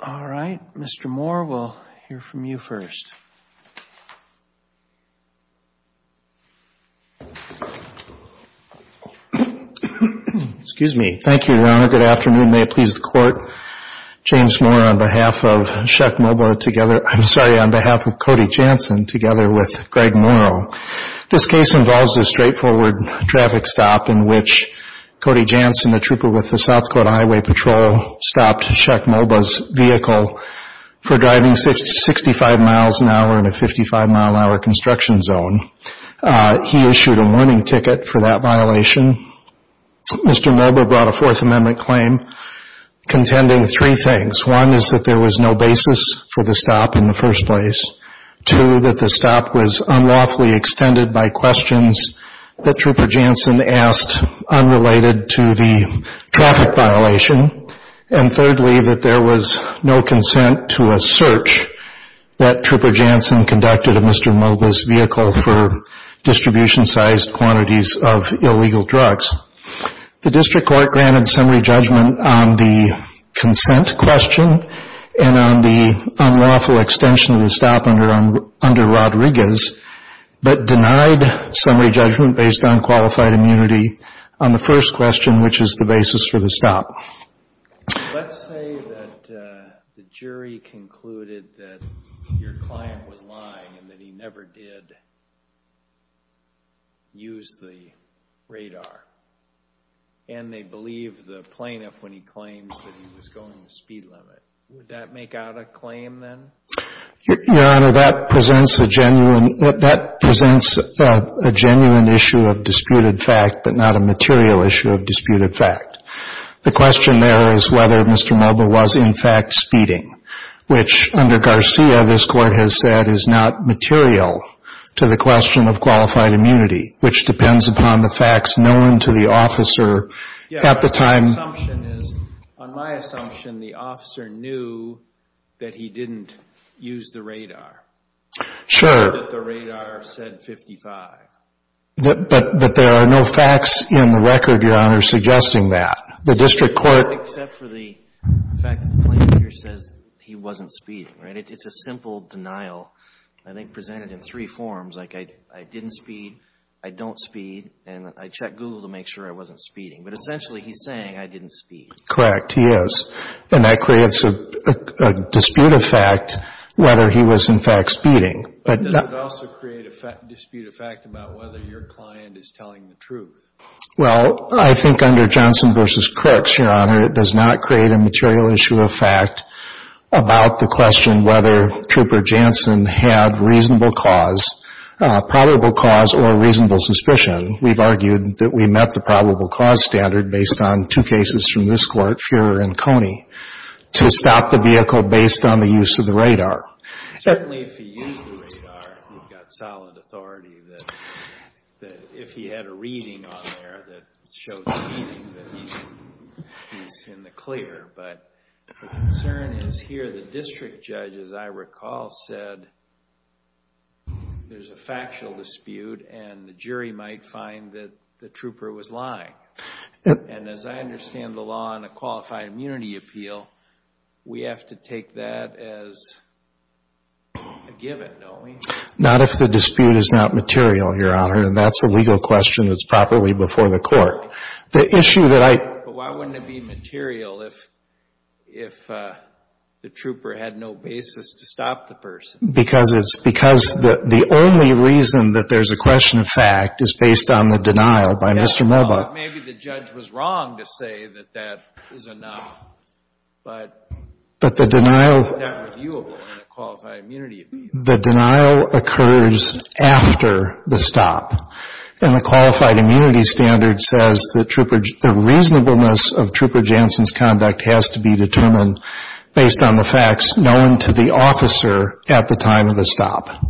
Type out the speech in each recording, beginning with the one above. The case involves a straightforward traffic stop in which Cody Jansen, the trooper with the vehicle for driving 65 mph in a 55 mph construction zone. He issued a warning ticket for that violation. Mr. Mulbah brought a Fourth Amendment claim contending three things. One is that there was no basis for the stop in the first place. Two, that the stop was unlawfully extended by questions that Trooper Jansen asked unrelated to the traffic violation. And thirdly, that there was no basis for the stop in the first place. No consent to a search that Trooper Jansen conducted of Mr. Mulbah's vehicle for distribution-sized quantities of illegal drugs. The district court granted summary judgment on the consent question and on the unlawful extension of the stop under Rodriguez, but denied summary judgment based on qualified immunity on the first question, which is the basis for the stop. Let's say that the jury concluded that your client was lying and that he never did use the radar, and they believe the plaintiff when he claims that he was going the speed limit. Would that make out a claim then? Your Honor, that presents a genuine issue of disputed fact, but not a material issue of disputed fact. The question there is whether Mr. Mulbah was in fact speeding, which under Garcia this Court has said is not material to the question of qualified immunity, which depends upon the facts known to the officer at the time. My assumption is, on my assumption, the officer knew that he didn't use the radar. Sure. That the radar said 55. But there are no facts in the record, Your Honor, suggesting that. The district court... It's a simple denial, I think presented in three forms, like I didn't speed, I don't speed, and I checked Google to make sure I wasn't speeding. But essentially he's saying I didn't speed. Correct, he is. And that creates a disputed fact whether he was in fact speeding. But does it also create a disputed fact about whether your client is telling the truth? Well, I think under Johnson v. Crooks, Your Honor, it does not create a material issue of fact about the question whether Trooper Johnson had reasonable cause, probable cause or reasonable suspicion. We've argued that we met the probable cause standard based on two cases from this Court, Fuhrer and Coney, to stop the vehicle based on the use of the radar. Certainly if he used the radar, we've got solid authority that if he had a reading on there that showed speeding, that he's in the clear. But the concern is here the district judge, as I recall, said there's a factual dispute and the jury might find that the trooper was lying. And as I understand the law in a qualified immunity appeal, we have to take that as a given, don't we? Not if the dispute is not material, Your Honor, and that's a legal question that's properly before the court. But why wouldn't it be material if the trooper had no basis to stop the person? Because the only reason that there's a question of fact is based on the denial by Mr. Melba. Maybe the judge was wrong to say that that is enough, but it's not reviewable in a qualified immunity appeal. The denial occurs after the stop. And the qualified immunity standard says the reasonableness of Trooper Johnson's conduct has to be determined based on the facts known to the officer at the time of the stop.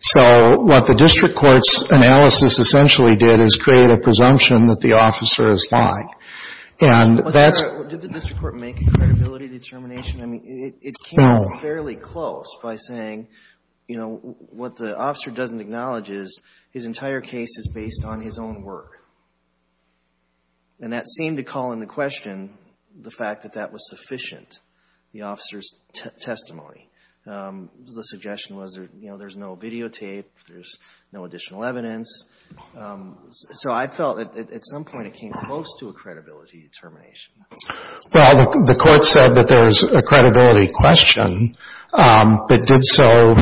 So what the district court's analysis essentially did is create a presumption that the officer is lying. And that's... Did the district court make a credibility determination? No. I mean, it came fairly close by saying, you know, what the officer doesn't acknowledge is his entire case is based on his own work. And that seemed to call into question the fact that that was sufficient, the officer's testimony. The suggestion was, you know, there's no videotape, there's no additional evidence. So I felt at some point it came close to a credibility determination. Well, the court said that there's a credibility question, but did so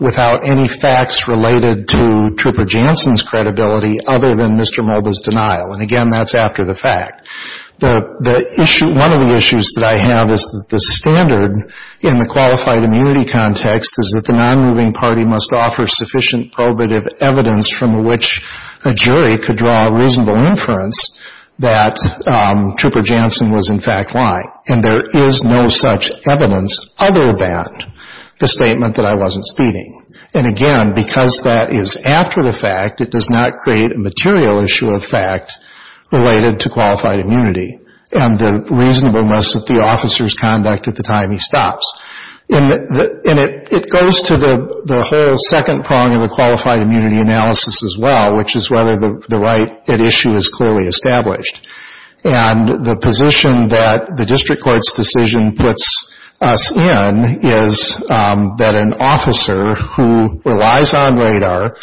without any facts related to Trooper Johnson's credibility other than Mr. Melba's denial. And, again, that's after the fact. One of the issues that I have is that the standard in the qualified immunity context is that the nonmoving party must offer sufficient probative evidence from which a jury could draw a reasonable inference that Trooper Johnson was, in fact, lying. And there is no such evidence other than the statement that I wasn't speeding. And, again, because that is after the fact, it does not create a material issue of fact related to qualified immunity and the reasonableness of the officer's conduct at the time he stops. And it goes to the whole second prong of the qualified immunity analysis as well, which is whether the right at issue is clearly established. And the position that the district court's decision puts us in is that an officer who relies on radar,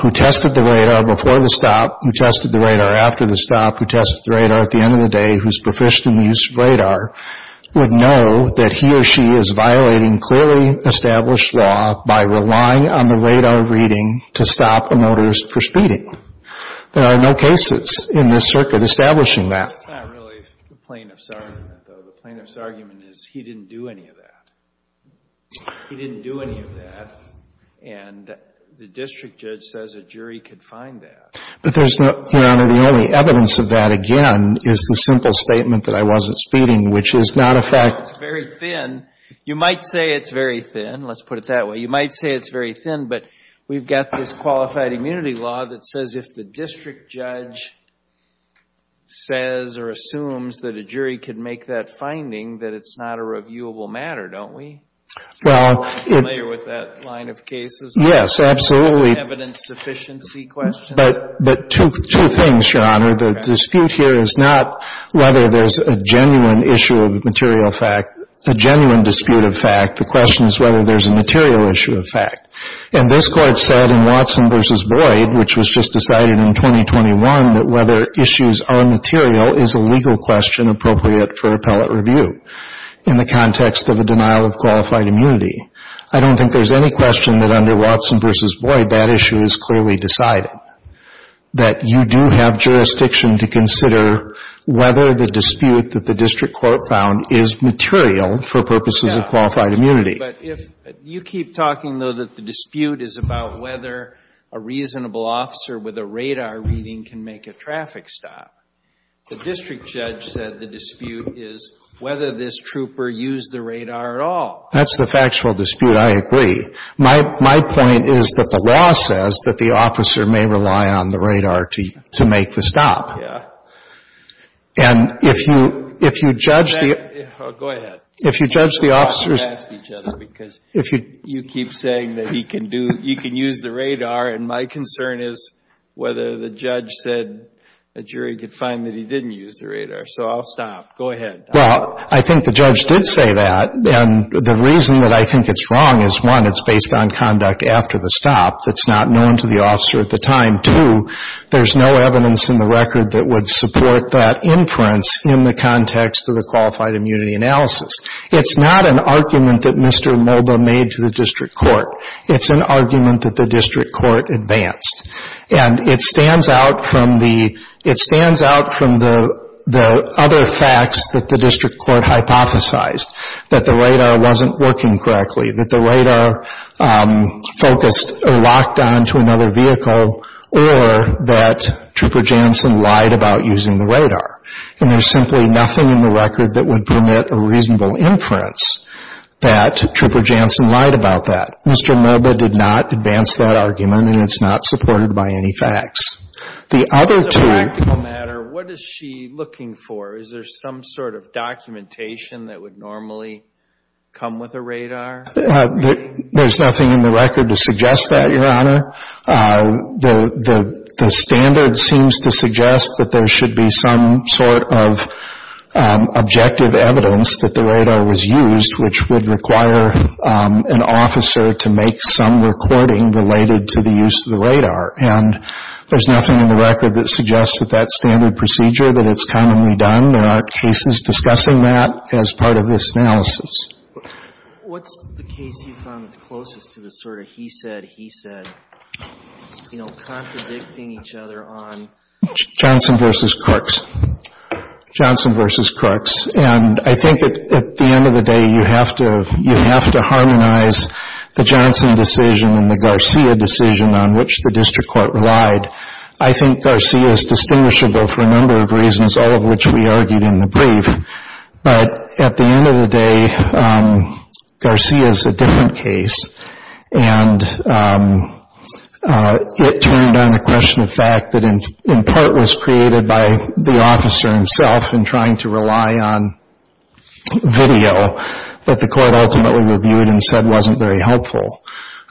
who tested the radar before the stop, who tested the radar after the stop, who tested the radar at the end of the day, who's proficient in the use of radar, would know that he or she is violating clearly established law by relying on the radar reading to stop a motorist for speeding. There are no cases in this circuit establishing that. It's not really the plaintiff's argument, though. The plaintiff's argument is he didn't do any of that. He didn't do any of that. And the district judge says a jury could find that. But there's no, Your Honor, the only evidence of that, again, is the simple statement that I wasn't speeding, which is not a fact. It's very thin. You might say it's very thin. Let's put it that way. You might say it's very thin. But we've got this qualified immunity law that says if the district judge says or assumes that a jury could make that finding, that it's not a reviewable matter, don't we? Well, it's clear with that line of cases. Yes, absolutely. Evidence sufficiency questions. But two things, Your Honor. The dispute here is not whether there's a genuine issue of material fact, a genuine dispute of fact. The question is whether there's a material issue of fact. And this Court said in Watson v. Boyd, which was just decided in 2021, that whether issues are material is a legal question appropriate for appellate review in the context of a denial of qualified immunity. I don't think there's any question that under Watson v. Boyd that issue is clearly decided, that you do have jurisdiction to consider whether the dispute that the district court found is material for purposes of qualified immunity. But you keep talking, though, that the dispute is about whether a reasonable officer with a radar reading can make a traffic stop. The district judge said the dispute is whether this trooper used the radar at all. That's the factual dispute. I agree. My point is that the law says that the officer may rely on the radar to make the stop. Yeah. And if you judge the – Go ahead. If you judge the officer's – We should ask each other because you keep saying that he can use the radar, and my concern is whether the judge said a jury could find that he didn't use the radar. So I'll stop. Go ahead. Well, I think the judge did say that. And the reason that I think it's wrong is, one, it's based on conduct after the stop that's not known to the officer at the time. Two, there's no evidence in the record that would support that inference in the context of the qualified immunity analysis. It's not an argument that Mr. Moba made to the district court. It's an argument that the district court advanced. And it stands out from the other facts that the district court hypothesized, that the radar wasn't working correctly, that the radar focused or locked on to another vehicle, or that Trooper Janssen lied about using the radar. And there's simply nothing in the record that would permit a reasonable inference that Trooper Janssen lied about that. Mr. Moba did not advance that argument, and it's not supported by any facts. The other two- As a practical matter, what is she looking for? Is there some sort of documentation that would normally come with a radar? There's nothing in the record to suggest that, Your Honor. The standard seems to suggest that there should be some sort of objective evidence that the radar was used, which would require an officer to make some recording related to the use of the radar. And there's nothing in the record that suggests that that standard procedure, that it's commonly done. There aren't cases discussing that as part of this analysis. What's the case you found that's closest to the sort of he said, he said, you know, contradicting each other on- Johnson v. Crooks. And I think at the end of the day, you have to harmonize the Johnson decision and the Garcia decision on which the district court relied. I think Garcia is distinguishable for a number of reasons, all of which we argued in the brief. But at the end of the day, Garcia is a different case. And it turned on the question of fact that in part was created by the officer himself in trying to rely on video that the court ultimately reviewed and said wasn't very helpful.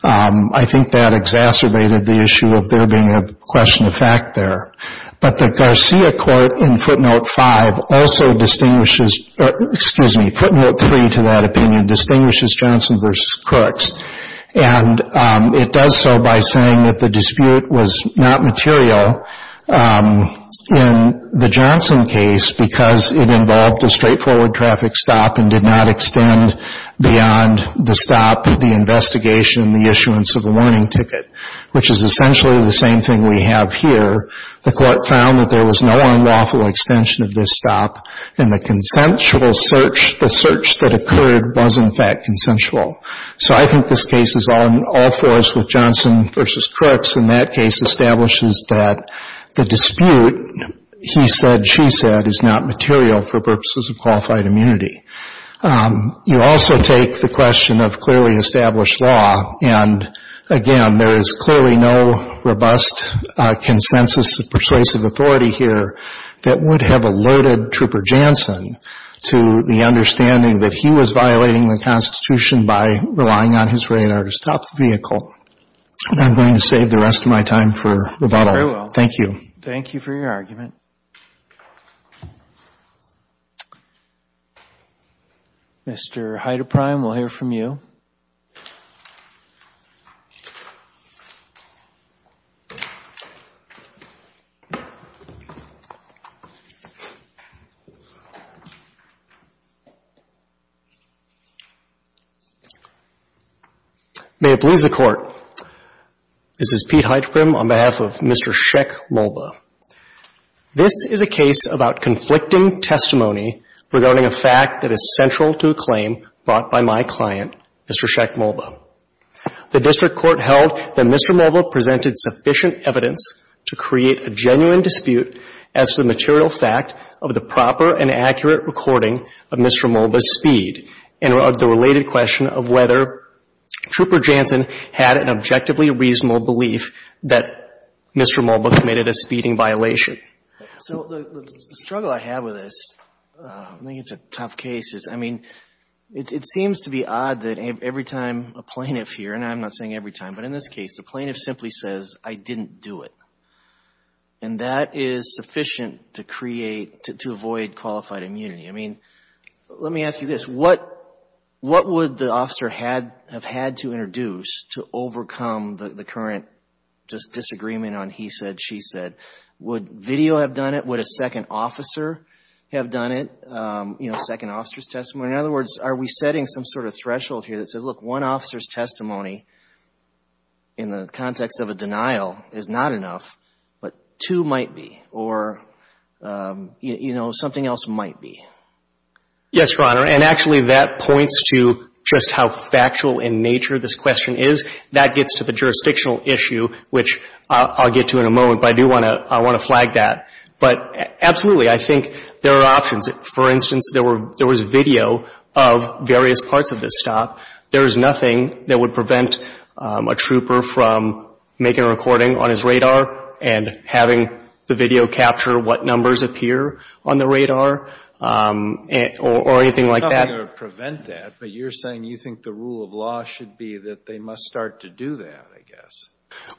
I think that exacerbated the issue of there being a question of fact there. But the Garcia court in footnote five also distinguishes, excuse me, footnote three to that opinion, distinguishes Johnson v. Crooks. And it does so by saying that the dispute was not material in the Johnson case because it involved a straightforward traffic stop and did not extend beyond the stop, the investigation, the issuance of the warning ticket, which is essentially the same thing we have here. The court found that there was no unlawful extension of this stop. And the consensual search, the search that occurred was in fact consensual. So I think this case is all for us with Johnson v. Crooks. And that case establishes that the dispute, he said, she said, is not material for purposes of qualified immunity. You also take the question of clearly established law. And, again, there is clearly no robust consensus of persuasive authority here that would have alerted Trooper Johnson to the understanding that he was violating the Constitution by relying on his radar to stop the vehicle. And I'm going to save the rest of my time for rebuttal. Thank you. Thank you for your argument. Mr. Heideprim, we'll hear from you. This is Pete Heideprim on behalf of Mr. Sheck Mulba. This is a case about conflicting testimony regarding a fact that is central to a claim brought by my client, Mr. Sheck Mulba. The district court held that Mr. Mulba presented sufficient evidence to create a genuine dispute as to the material fact of the proper and accurate recording of Mr. Mulba's feed and of the related question of whether Trooper Johnson had an objectively reasonable belief that Mr. Mulba committed a speeding violation. So the struggle I have with this, I think it's a tough case, is, I mean, it seems to be odd that every time a plaintiff here, and I'm not saying every time, but in this case, the plaintiff simply says, I didn't do it. And that is sufficient to create, to avoid qualified immunity. I mean, let me ask you this. What would the officer have had to introduce to overcome the current just disagreement on he said, she said? Would video have done it? Would a second officer have done it, you know, second officer's testimony? In other words, are we setting some sort of threshold here that says, look, one officer's testimony in the context of a denial is not enough, but two might be, or, you know, something else might be? Yes, Your Honor. And actually that points to just how factual in nature this question is. That gets to the jurisdictional issue, which I'll get to in a moment, but I do want to flag that. But absolutely, I think there are options. For instance, there was video of various parts of this stop. There is nothing that would prevent a trooper from making a recording on his radar and having the video capture what numbers appear on the radar or anything like that. It's not going to prevent that, but you're saying you think the rule of law should be that they must start to do that, I guess.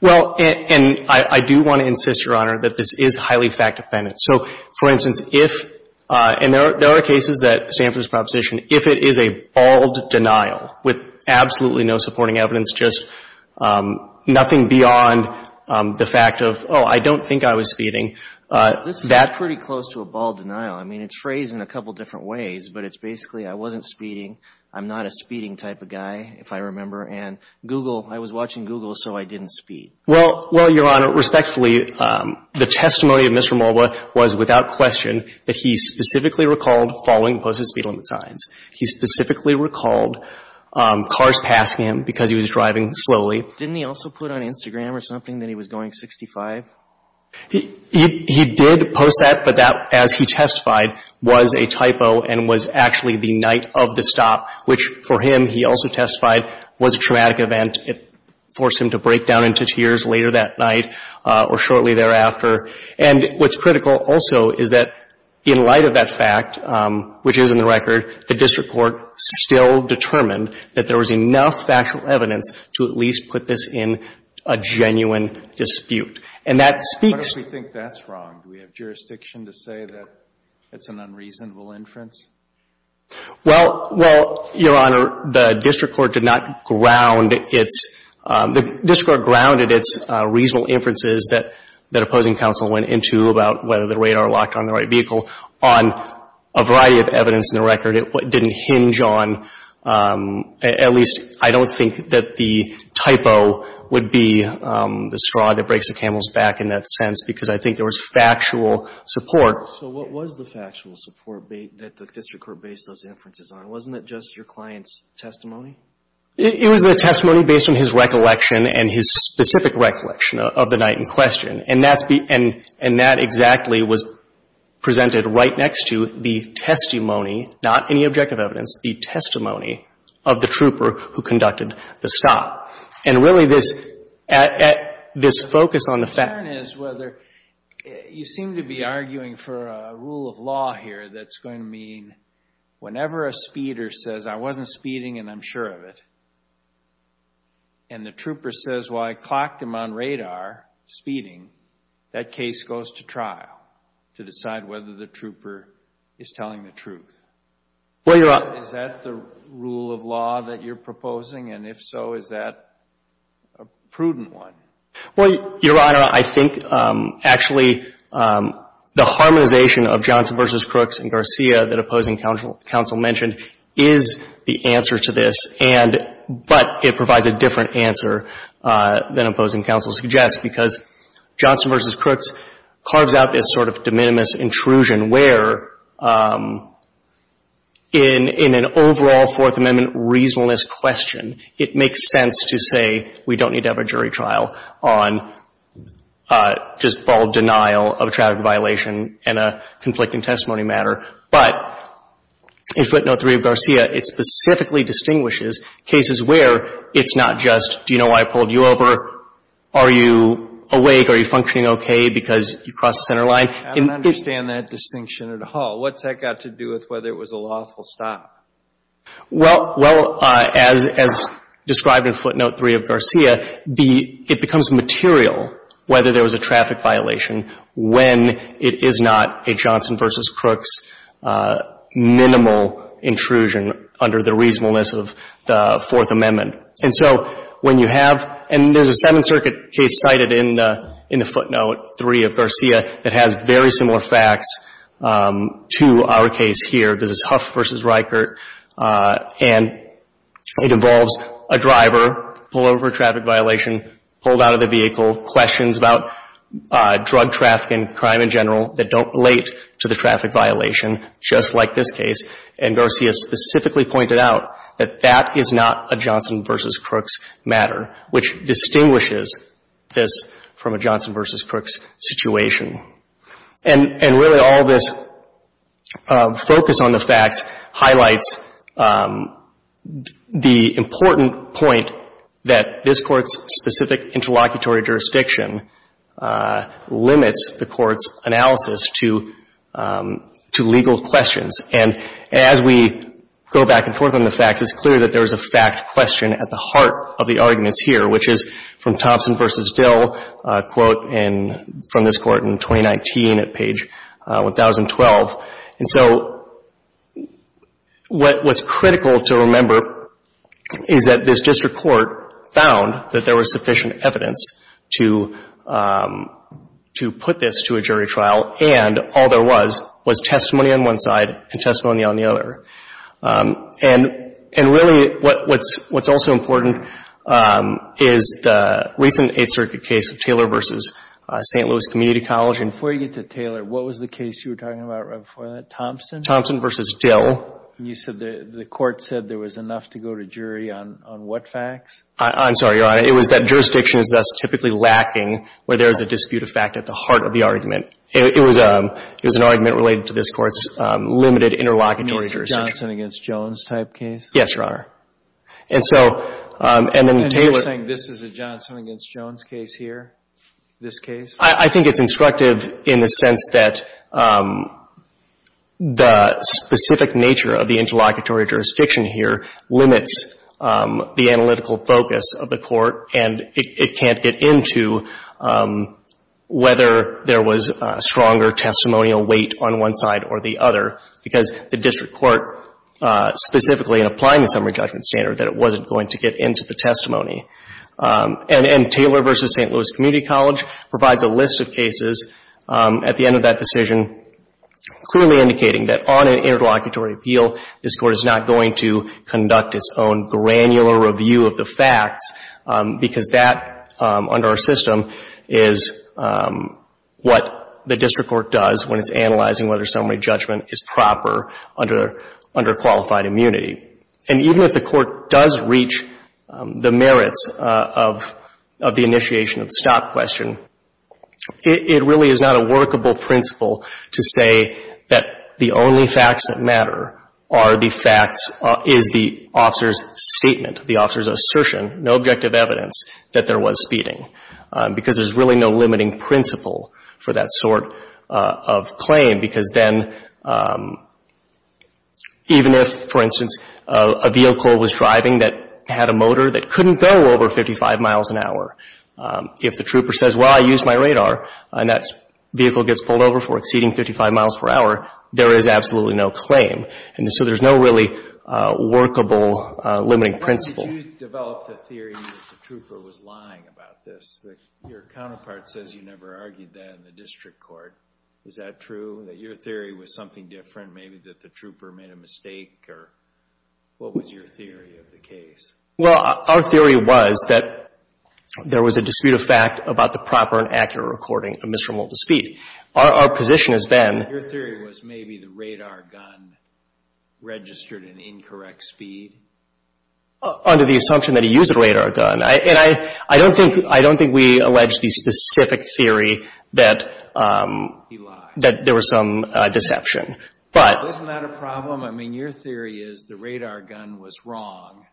Well, and I do want to insist, Your Honor, that this is highly fact-dependent. So, for instance, if, and there are cases that Stanford's proposition, if it is a bald denial with absolutely no supporting evidence, just nothing beyond the fact of, oh, I don't think I was speeding. This is pretty close to a bald denial. I mean, it's phrased in a couple different ways, but it's basically I wasn't speeding, I'm not a speeding type of guy, if I remember, and Google, I was watching Google, so I didn't speed. Well, Your Honor, respectfully, the testimony of Mr. Mulva was without question that he specifically recalled following posted speed limit signs. He specifically recalled cars passing him because he was driving slowly. Didn't he also put on Instagram or something that he was going 65? He did post that, but that, as he testified, was a typo and was actually the night of the stop, which, for him, he also testified was a traumatic event. It forced him to break down into tears later that night or shortly thereafter. And what's critical, also, is that in light of that fact, which is in the record, the district court still determined that there was enough factual evidence to at least put this in a genuine dispute. And that speaks to the fact that he was driving. Alito What if we think that's wrong? Do we have jurisdiction to say that it's an unreasonable inference? Well, Your Honor, the district court did not ground its, the district court grounded its reasonable inferences that opposing counsel went into about whether the radar locked on the right vehicle on a variety of evidence in the record. It didn't hinge on, at least I don't think that the typo would be the straw that breaks the camel's back in that sense, because I think there was factual support. Alito So what was the factual support that the district court based those inferences on? Wasn't it just your client's testimony? It was the testimony based on his recollection and his specific recollection of the night in question. And that's the, and that exactly was presented right next to the testimony, not any objective evidence, the testimony of the trooper who conducted the stop. And really this, this focus on the fact you seem to be arguing for a rule of law here that's going to mean whenever a speeder says, I wasn't speeding and I'm sure of it, and the trooper says, well, I clocked him on radar, speeding, that case goes to trial to decide whether the trooper is telling the truth. Is that the rule of law that you're proposing? And if so, is that a prudent one? Well, Your Honor, I think actually the harmonization of Johnson v. Crooks and Garcia that opposing counsel mentioned is the answer to this, and, but it provides a different answer than opposing counsel suggests, because Johnson v. Crooks carves out this sort of de minimis intrusion where in, in an overall Fourth Amendment reasonableness question, it makes sense to say we don't need to have a jury trial on just bald denial of a traffic violation and a conflicting testimony matter. But in footnote 3 of Garcia, it specifically distinguishes cases where it's not just, do you know why I pulled you over? Are you awake? Are you functioning okay because you crossed the center line? I don't understand that distinction at all. What's that got to do with whether it was a lawful stop? Well, well, as, as described in footnote 3 of Garcia, the, it becomes material whether there was a traffic violation when it is not a Johnson v. Crooks minimal intrusion under the reasonableness of the Fourth Amendment. And so when you have, and there's a Seventh Circuit case cited in, in the footnote 3 of Garcia that has very similar facts to our case here, this is Huff v. Reichert, and it involves a driver pulled over for a traffic violation, pulled out of the vehicle, questions about drug trafficking, crime in general that don't relate to the traffic violation, just like this case. And Garcia specifically pointed out that that is not a Johnson v. Crooks matter, which distinguishes this from a Johnson v. Crooks situation. And, and really all this focus on the facts highlights the important point that this Court's specific interlocutory jurisdiction limits the Court's analysis to, to legal questions. And as we go back and forth on the facts, it's clear that there is a fact question at the heart of the arguments here, which is from Thompson v. Dill, a quote in, from this Court in 2019 at page 1012. And so what, what's critical to remember is that this district court found that there was sufficient evidence to, to put this to a jury trial, and all there was, was testimony on one side and testimony on the other. And, and really what, what's, what's also important is the recent Eighth Circuit case of Taylor v. St. Louis Community College. And before you get to Taylor, what was the case you were talking about right before that, Thompson? Thompson v. Dill. You said the, the Court said there was enough to go to jury on, on what facts? I, I'm sorry, Your Honor. It was that jurisdiction is thus typically lacking where there is a dispute of fact at the heart of the argument. It, it was a, it was an argument related to this Court's limited interlocutory jurisdiction. You mean this Johnson v. Jones type case? Yes, Your Honor. And so, and then Taylor. And you're saying this is a Johnson v. Jones case here, this case? I, I think it's instructive in the sense that the specific nature of the interlocutory jurisdiction here limits the analytical focus of the Court, and it, it can't get into whether there was a stronger testimonial weight on one side or the other, because the district court specifically in applying the summary judgment standard, that it wasn't going to get into the testimony. And, and Taylor v. St. Louis Community College provides a list of cases at the end of that decision clearly indicating that on an interlocutory appeal, this Court is not going to conduct its own granular review of the facts, because that, under our system, is what the district court does when it's analyzing whether summary judgment is proper under, under qualified immunity. And even if the Court does reach the merits of, of the initiation of the stop question, it, it really is not a workable principle to say that the only facts that matter are the facts, is the officer's statement, the officer's assertion, no objective evidence that there was speeding, because there's really no limiting principle for that sort of claim, because then even if, for instance, a vehicle was driving that had a motor that couldn't go over 55 miles an hour, if the trooper says, well, I used my radar, and that vehicle gets pulled over for exceeding 55 miles per hour, there is absolutely no claim. And so there's no really workable limiting principle. You developed a theory that the trooper was lying about this. Your counterpart says you never argued that in the district court. Is that true, that your theory was something different, maybe that the trooper made a mistake, or what was your theory of the case? Well, our theory was that there was a dispute of fact about the proper and accurate recording of Mr. Mulder's speed. Our, our position has been... Your theory was maybe the radar gun registered an incorrect speed? Under the assumption that he used a radar gun. And I, I don't think, I don't think we allege the specific theory that... He lied. That there was some deception. But... Isn't that a problem? I mean, your theory is the radar gun was wrong.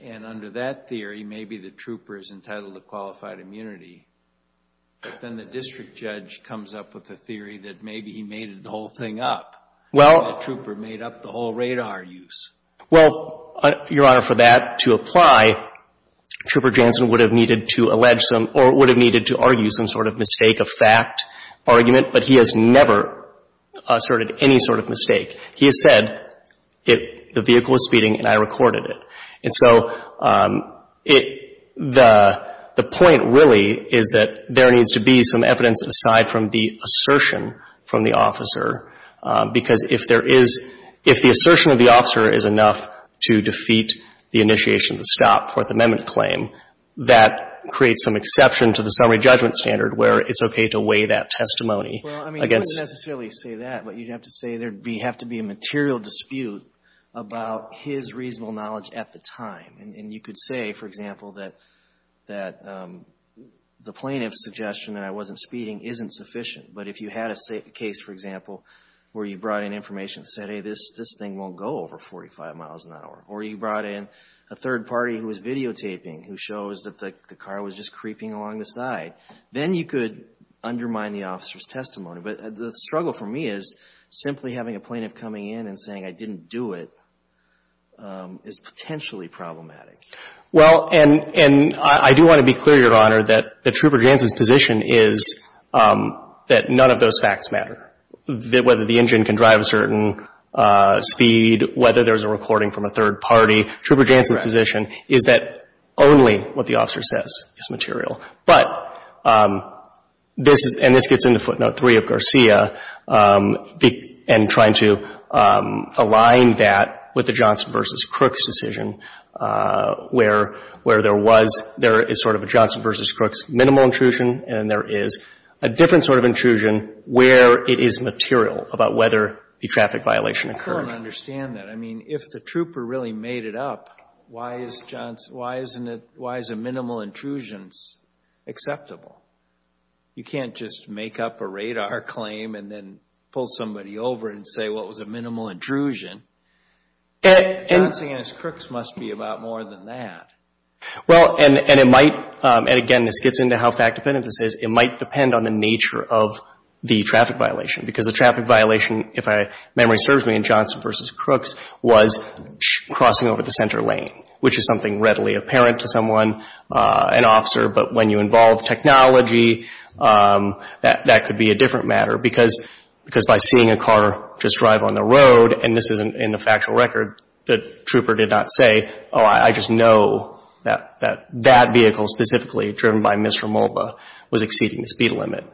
And under that theory, maybe the trooper is entitled to qualified immunity. But then the district judge comes up with a theory that maybe he made the whole thing up. Well... Maybe the trooper made up the whole radar use. Well, Your Honor, for that to apply, Trooper Janssen would have needed to allege some, or would have needed to argue some sort of mistake of fact argument. But he has never asserted any sort of mistake. He has said it, the vehicle was speeding and I recorded it. And so, it, the, the point really is that there needs to be some evidence aside from the assertion from the officer. Because if there is, if the assertion of the officer is enough to defeat the initiation of the stop, Fourth Amendment claim, that creates some exception to the summary judgment standard where it's okay to weigh that testimony against... Well, I mean, you wouldn't necessarily say that. But you'd have to say there'd be, have to be a material dispute about his reasonable knowledge at the time. And, and you could say, for example, that, that the plaintiff's suggestion that I wasn't speeding isn't sufficient. But if you had a case, for example, where you brought in information that said, hey, this, this thing won't go over 45 miles an hour. Or you brought in a third party who was videotaping, who shows that the car was just creeping along the side. Then you could undermine the officer's testimony. But the struggle for me is simply having a plaintiff coming in and saying, I didn't do it, is potentially problematic. Well, and, and I do want to be clear, Your Honor, that, that Trooper Jansen's position is that none of those facts matter. That whether the engine can drive a certain speed, whether there's a recording from a third party, Trooper Jansen's position is that only what the officer says is material. But this is, and this gets into footnote three of Garcia. And trying to align that with the Johnson v. Crooks decision, where, where there was, there is sort of a Johnson v. Crooks minimal intrusion, and there is a different sort of intrusion where it is material about whether the traffic violation occurred. I don't understand that. I mean, if the Trooper really made it up, why is Johnson, why isn't it, why is a minimal intrusion acceptable? You can't just make up a radar claim and then pull somebody over and say, what was a minimal intrusion? Johnson v. Crooks must be about more than that. Well, and, and it might, and again, this gets into how fact-dependent this is, it might depend on the nature of the traffic violation. Because the traffic violation, if I, memory serves me in Johnson v. Crooks, was crossing over the center lane, which is something readily apparent to someone, an officer. But when you involve technology, that, that could be a different matter. Because, because by seeing a car just drive on the road, and this isn't in the factual record, the Trooper did not say, oh, I just know that, that, that vehicle, specifically driven by Mr. Mulva, was exceeding the speed limit.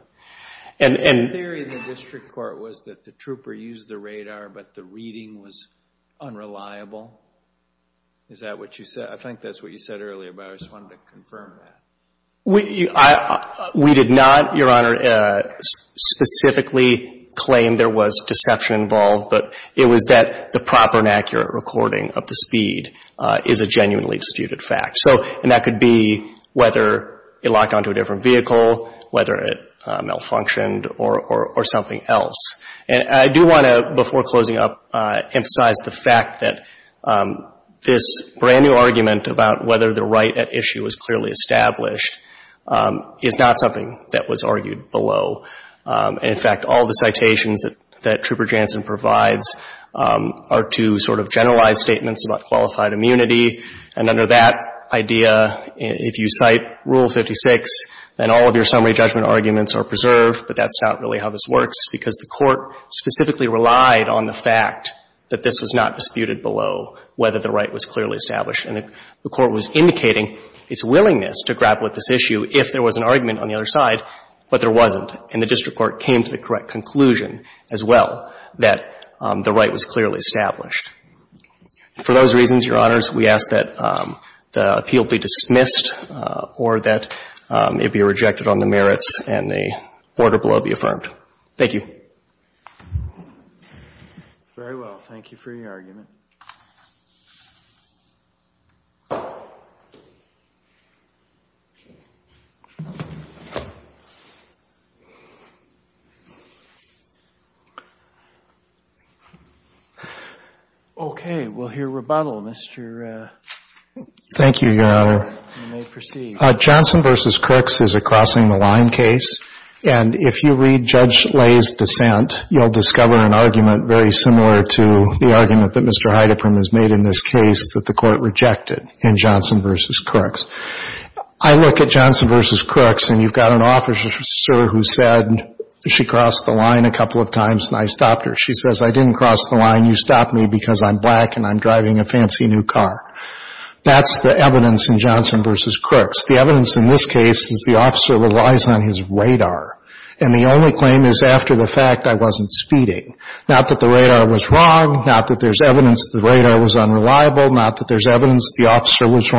And, and... The theory in the district court was that the Trooper used the radar, but the reading was unreliable. Is that what you said? I think that's what you said earlier, but I just wanted to confirm that. We, I, we did not, Your Honor, specifically claim there was deception involved. But it was that the proper and accurate recording of the speed is a genuinely disputed fact. So, and that could be whether it locked onto a different vehicle, whether it malfunctioned, or, or, or something else. And I do want to, before closing up, emphasize the fact that this brand-new argument about whether the right at issue is clearly established is not something that was argued below. In fact, all the citations that, that Trooper Jansen provides are to sort of generalize statements about qualified immunity. And under that idea, if you cite Rule 56, then all of your summary judgment arguments are preserved. But that's not really how this works, because the Court specifically relied on the fact that this was not disputed below, whether the right was clearly established. And the Court was indicating its willingness to grapple with this issue if there was an argument on the other side, but there wasn't. And the district court came to the correct conclusion as well that the right was clearly established. For those reasons, Your Honors, we ask that the appeal be dismissed or that it be rejected on the merits and the order below be affirmed. Thank you. Very well. Thank you for your argument. Okay. We'll hear rebuttal. Mr. Thank you, Your Honor. You may proceed. Johnson v. Crooks is a crossing the line case. And if you read Judge Lay's dissent, you'll discover an argument very similar to the argument that Mr. Heidepperm has made in this case that the Court rejected in Johnson v. Crooks. I look at Johnson v. Crooks, and you've got an officer who said she crossed the line a couple of times, and I stopped her. She says, I didn't cross the line. You stopped me because I'm black and I'm driving a fancy new car. That's the evidence in Johnson v. Crooks. The evidence in this case is the officer relies on his radar. And the only claim is after the fact, I wasn't speeding. Not that the radar was wrong. Not that there's evidence the radar was unreliable. Not that there's evidence the officer was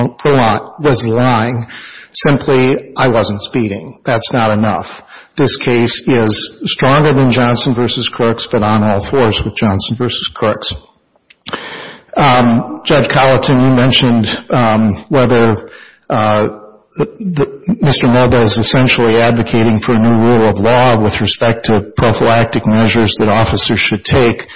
lying. Simply, I wasn't speeding. That's not enough. This case is stronger than Johnson v. Crooks, but on all fours with Johnson v. Crooks. Judge Colleton, you mentioned whether Mr. Moeba is essentially advocating for a new rule of law with respect to prophylactic measures that officers should take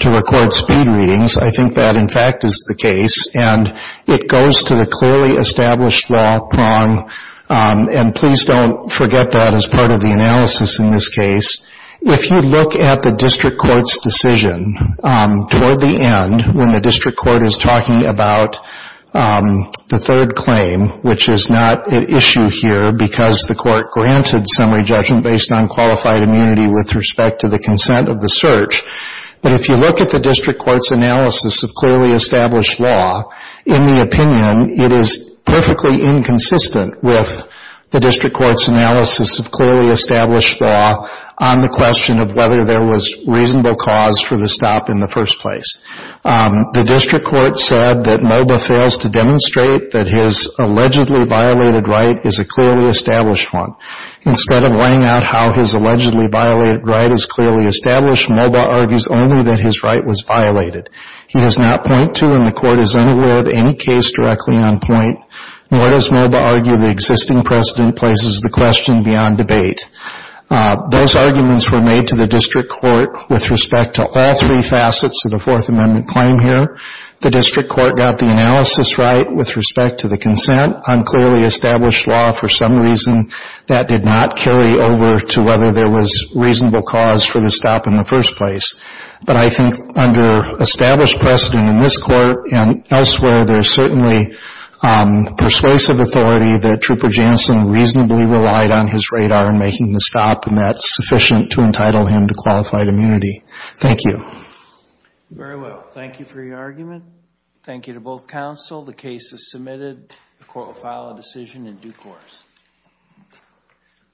to record speed readings. I think that, in fact, is the case. And it goes to the clearly established law prong, and please don't forget that as part of the analysis in this case. If you look at the district court's decision toward the end, when the district court is talking about the third claim, which is not at issue here because the court granted summary judgment based on qualified immunity with respect to the consent of the search. But if you look at the district court's analysis of clearly established law, in the opinion, it is perfectly inconsistent with the district court's analysis of whether there was reasonable cause for the stop in the first place. The district court said that Moeba fails to demonstrate that his allegedly violated right is a clearly established one. Instead of laying out how his allegedly violated right is clearly established, Moeba argues only that his right was violated. He does not point to when the court is unaware of any case directly on point, nor does Moeba argue the existing precedent places the question beyond debate. Those arguments were made to the district court with respect to all three facets of the Fourth Amendment claim here. The district court got the analysis right with respect to the consent. On clearly established law, for some reason, that did not carry over to whether there was reasonable cause for the stop in the first place. But I think under established precedent in this court and elsewhere, there's certainly persuasive authority that Trooper Jansen reasonably relied on his radar in making the stop, and that's sufficient to entitle him to qualified immunity. Thank you. Very well. Thank you for your argument. Thank you to both counsel. The case is submitted. The court will file a decision in due course.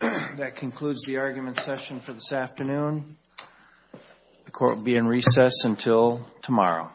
That concludes the argument session for this afternoon. The court will be in recess until tomorrow.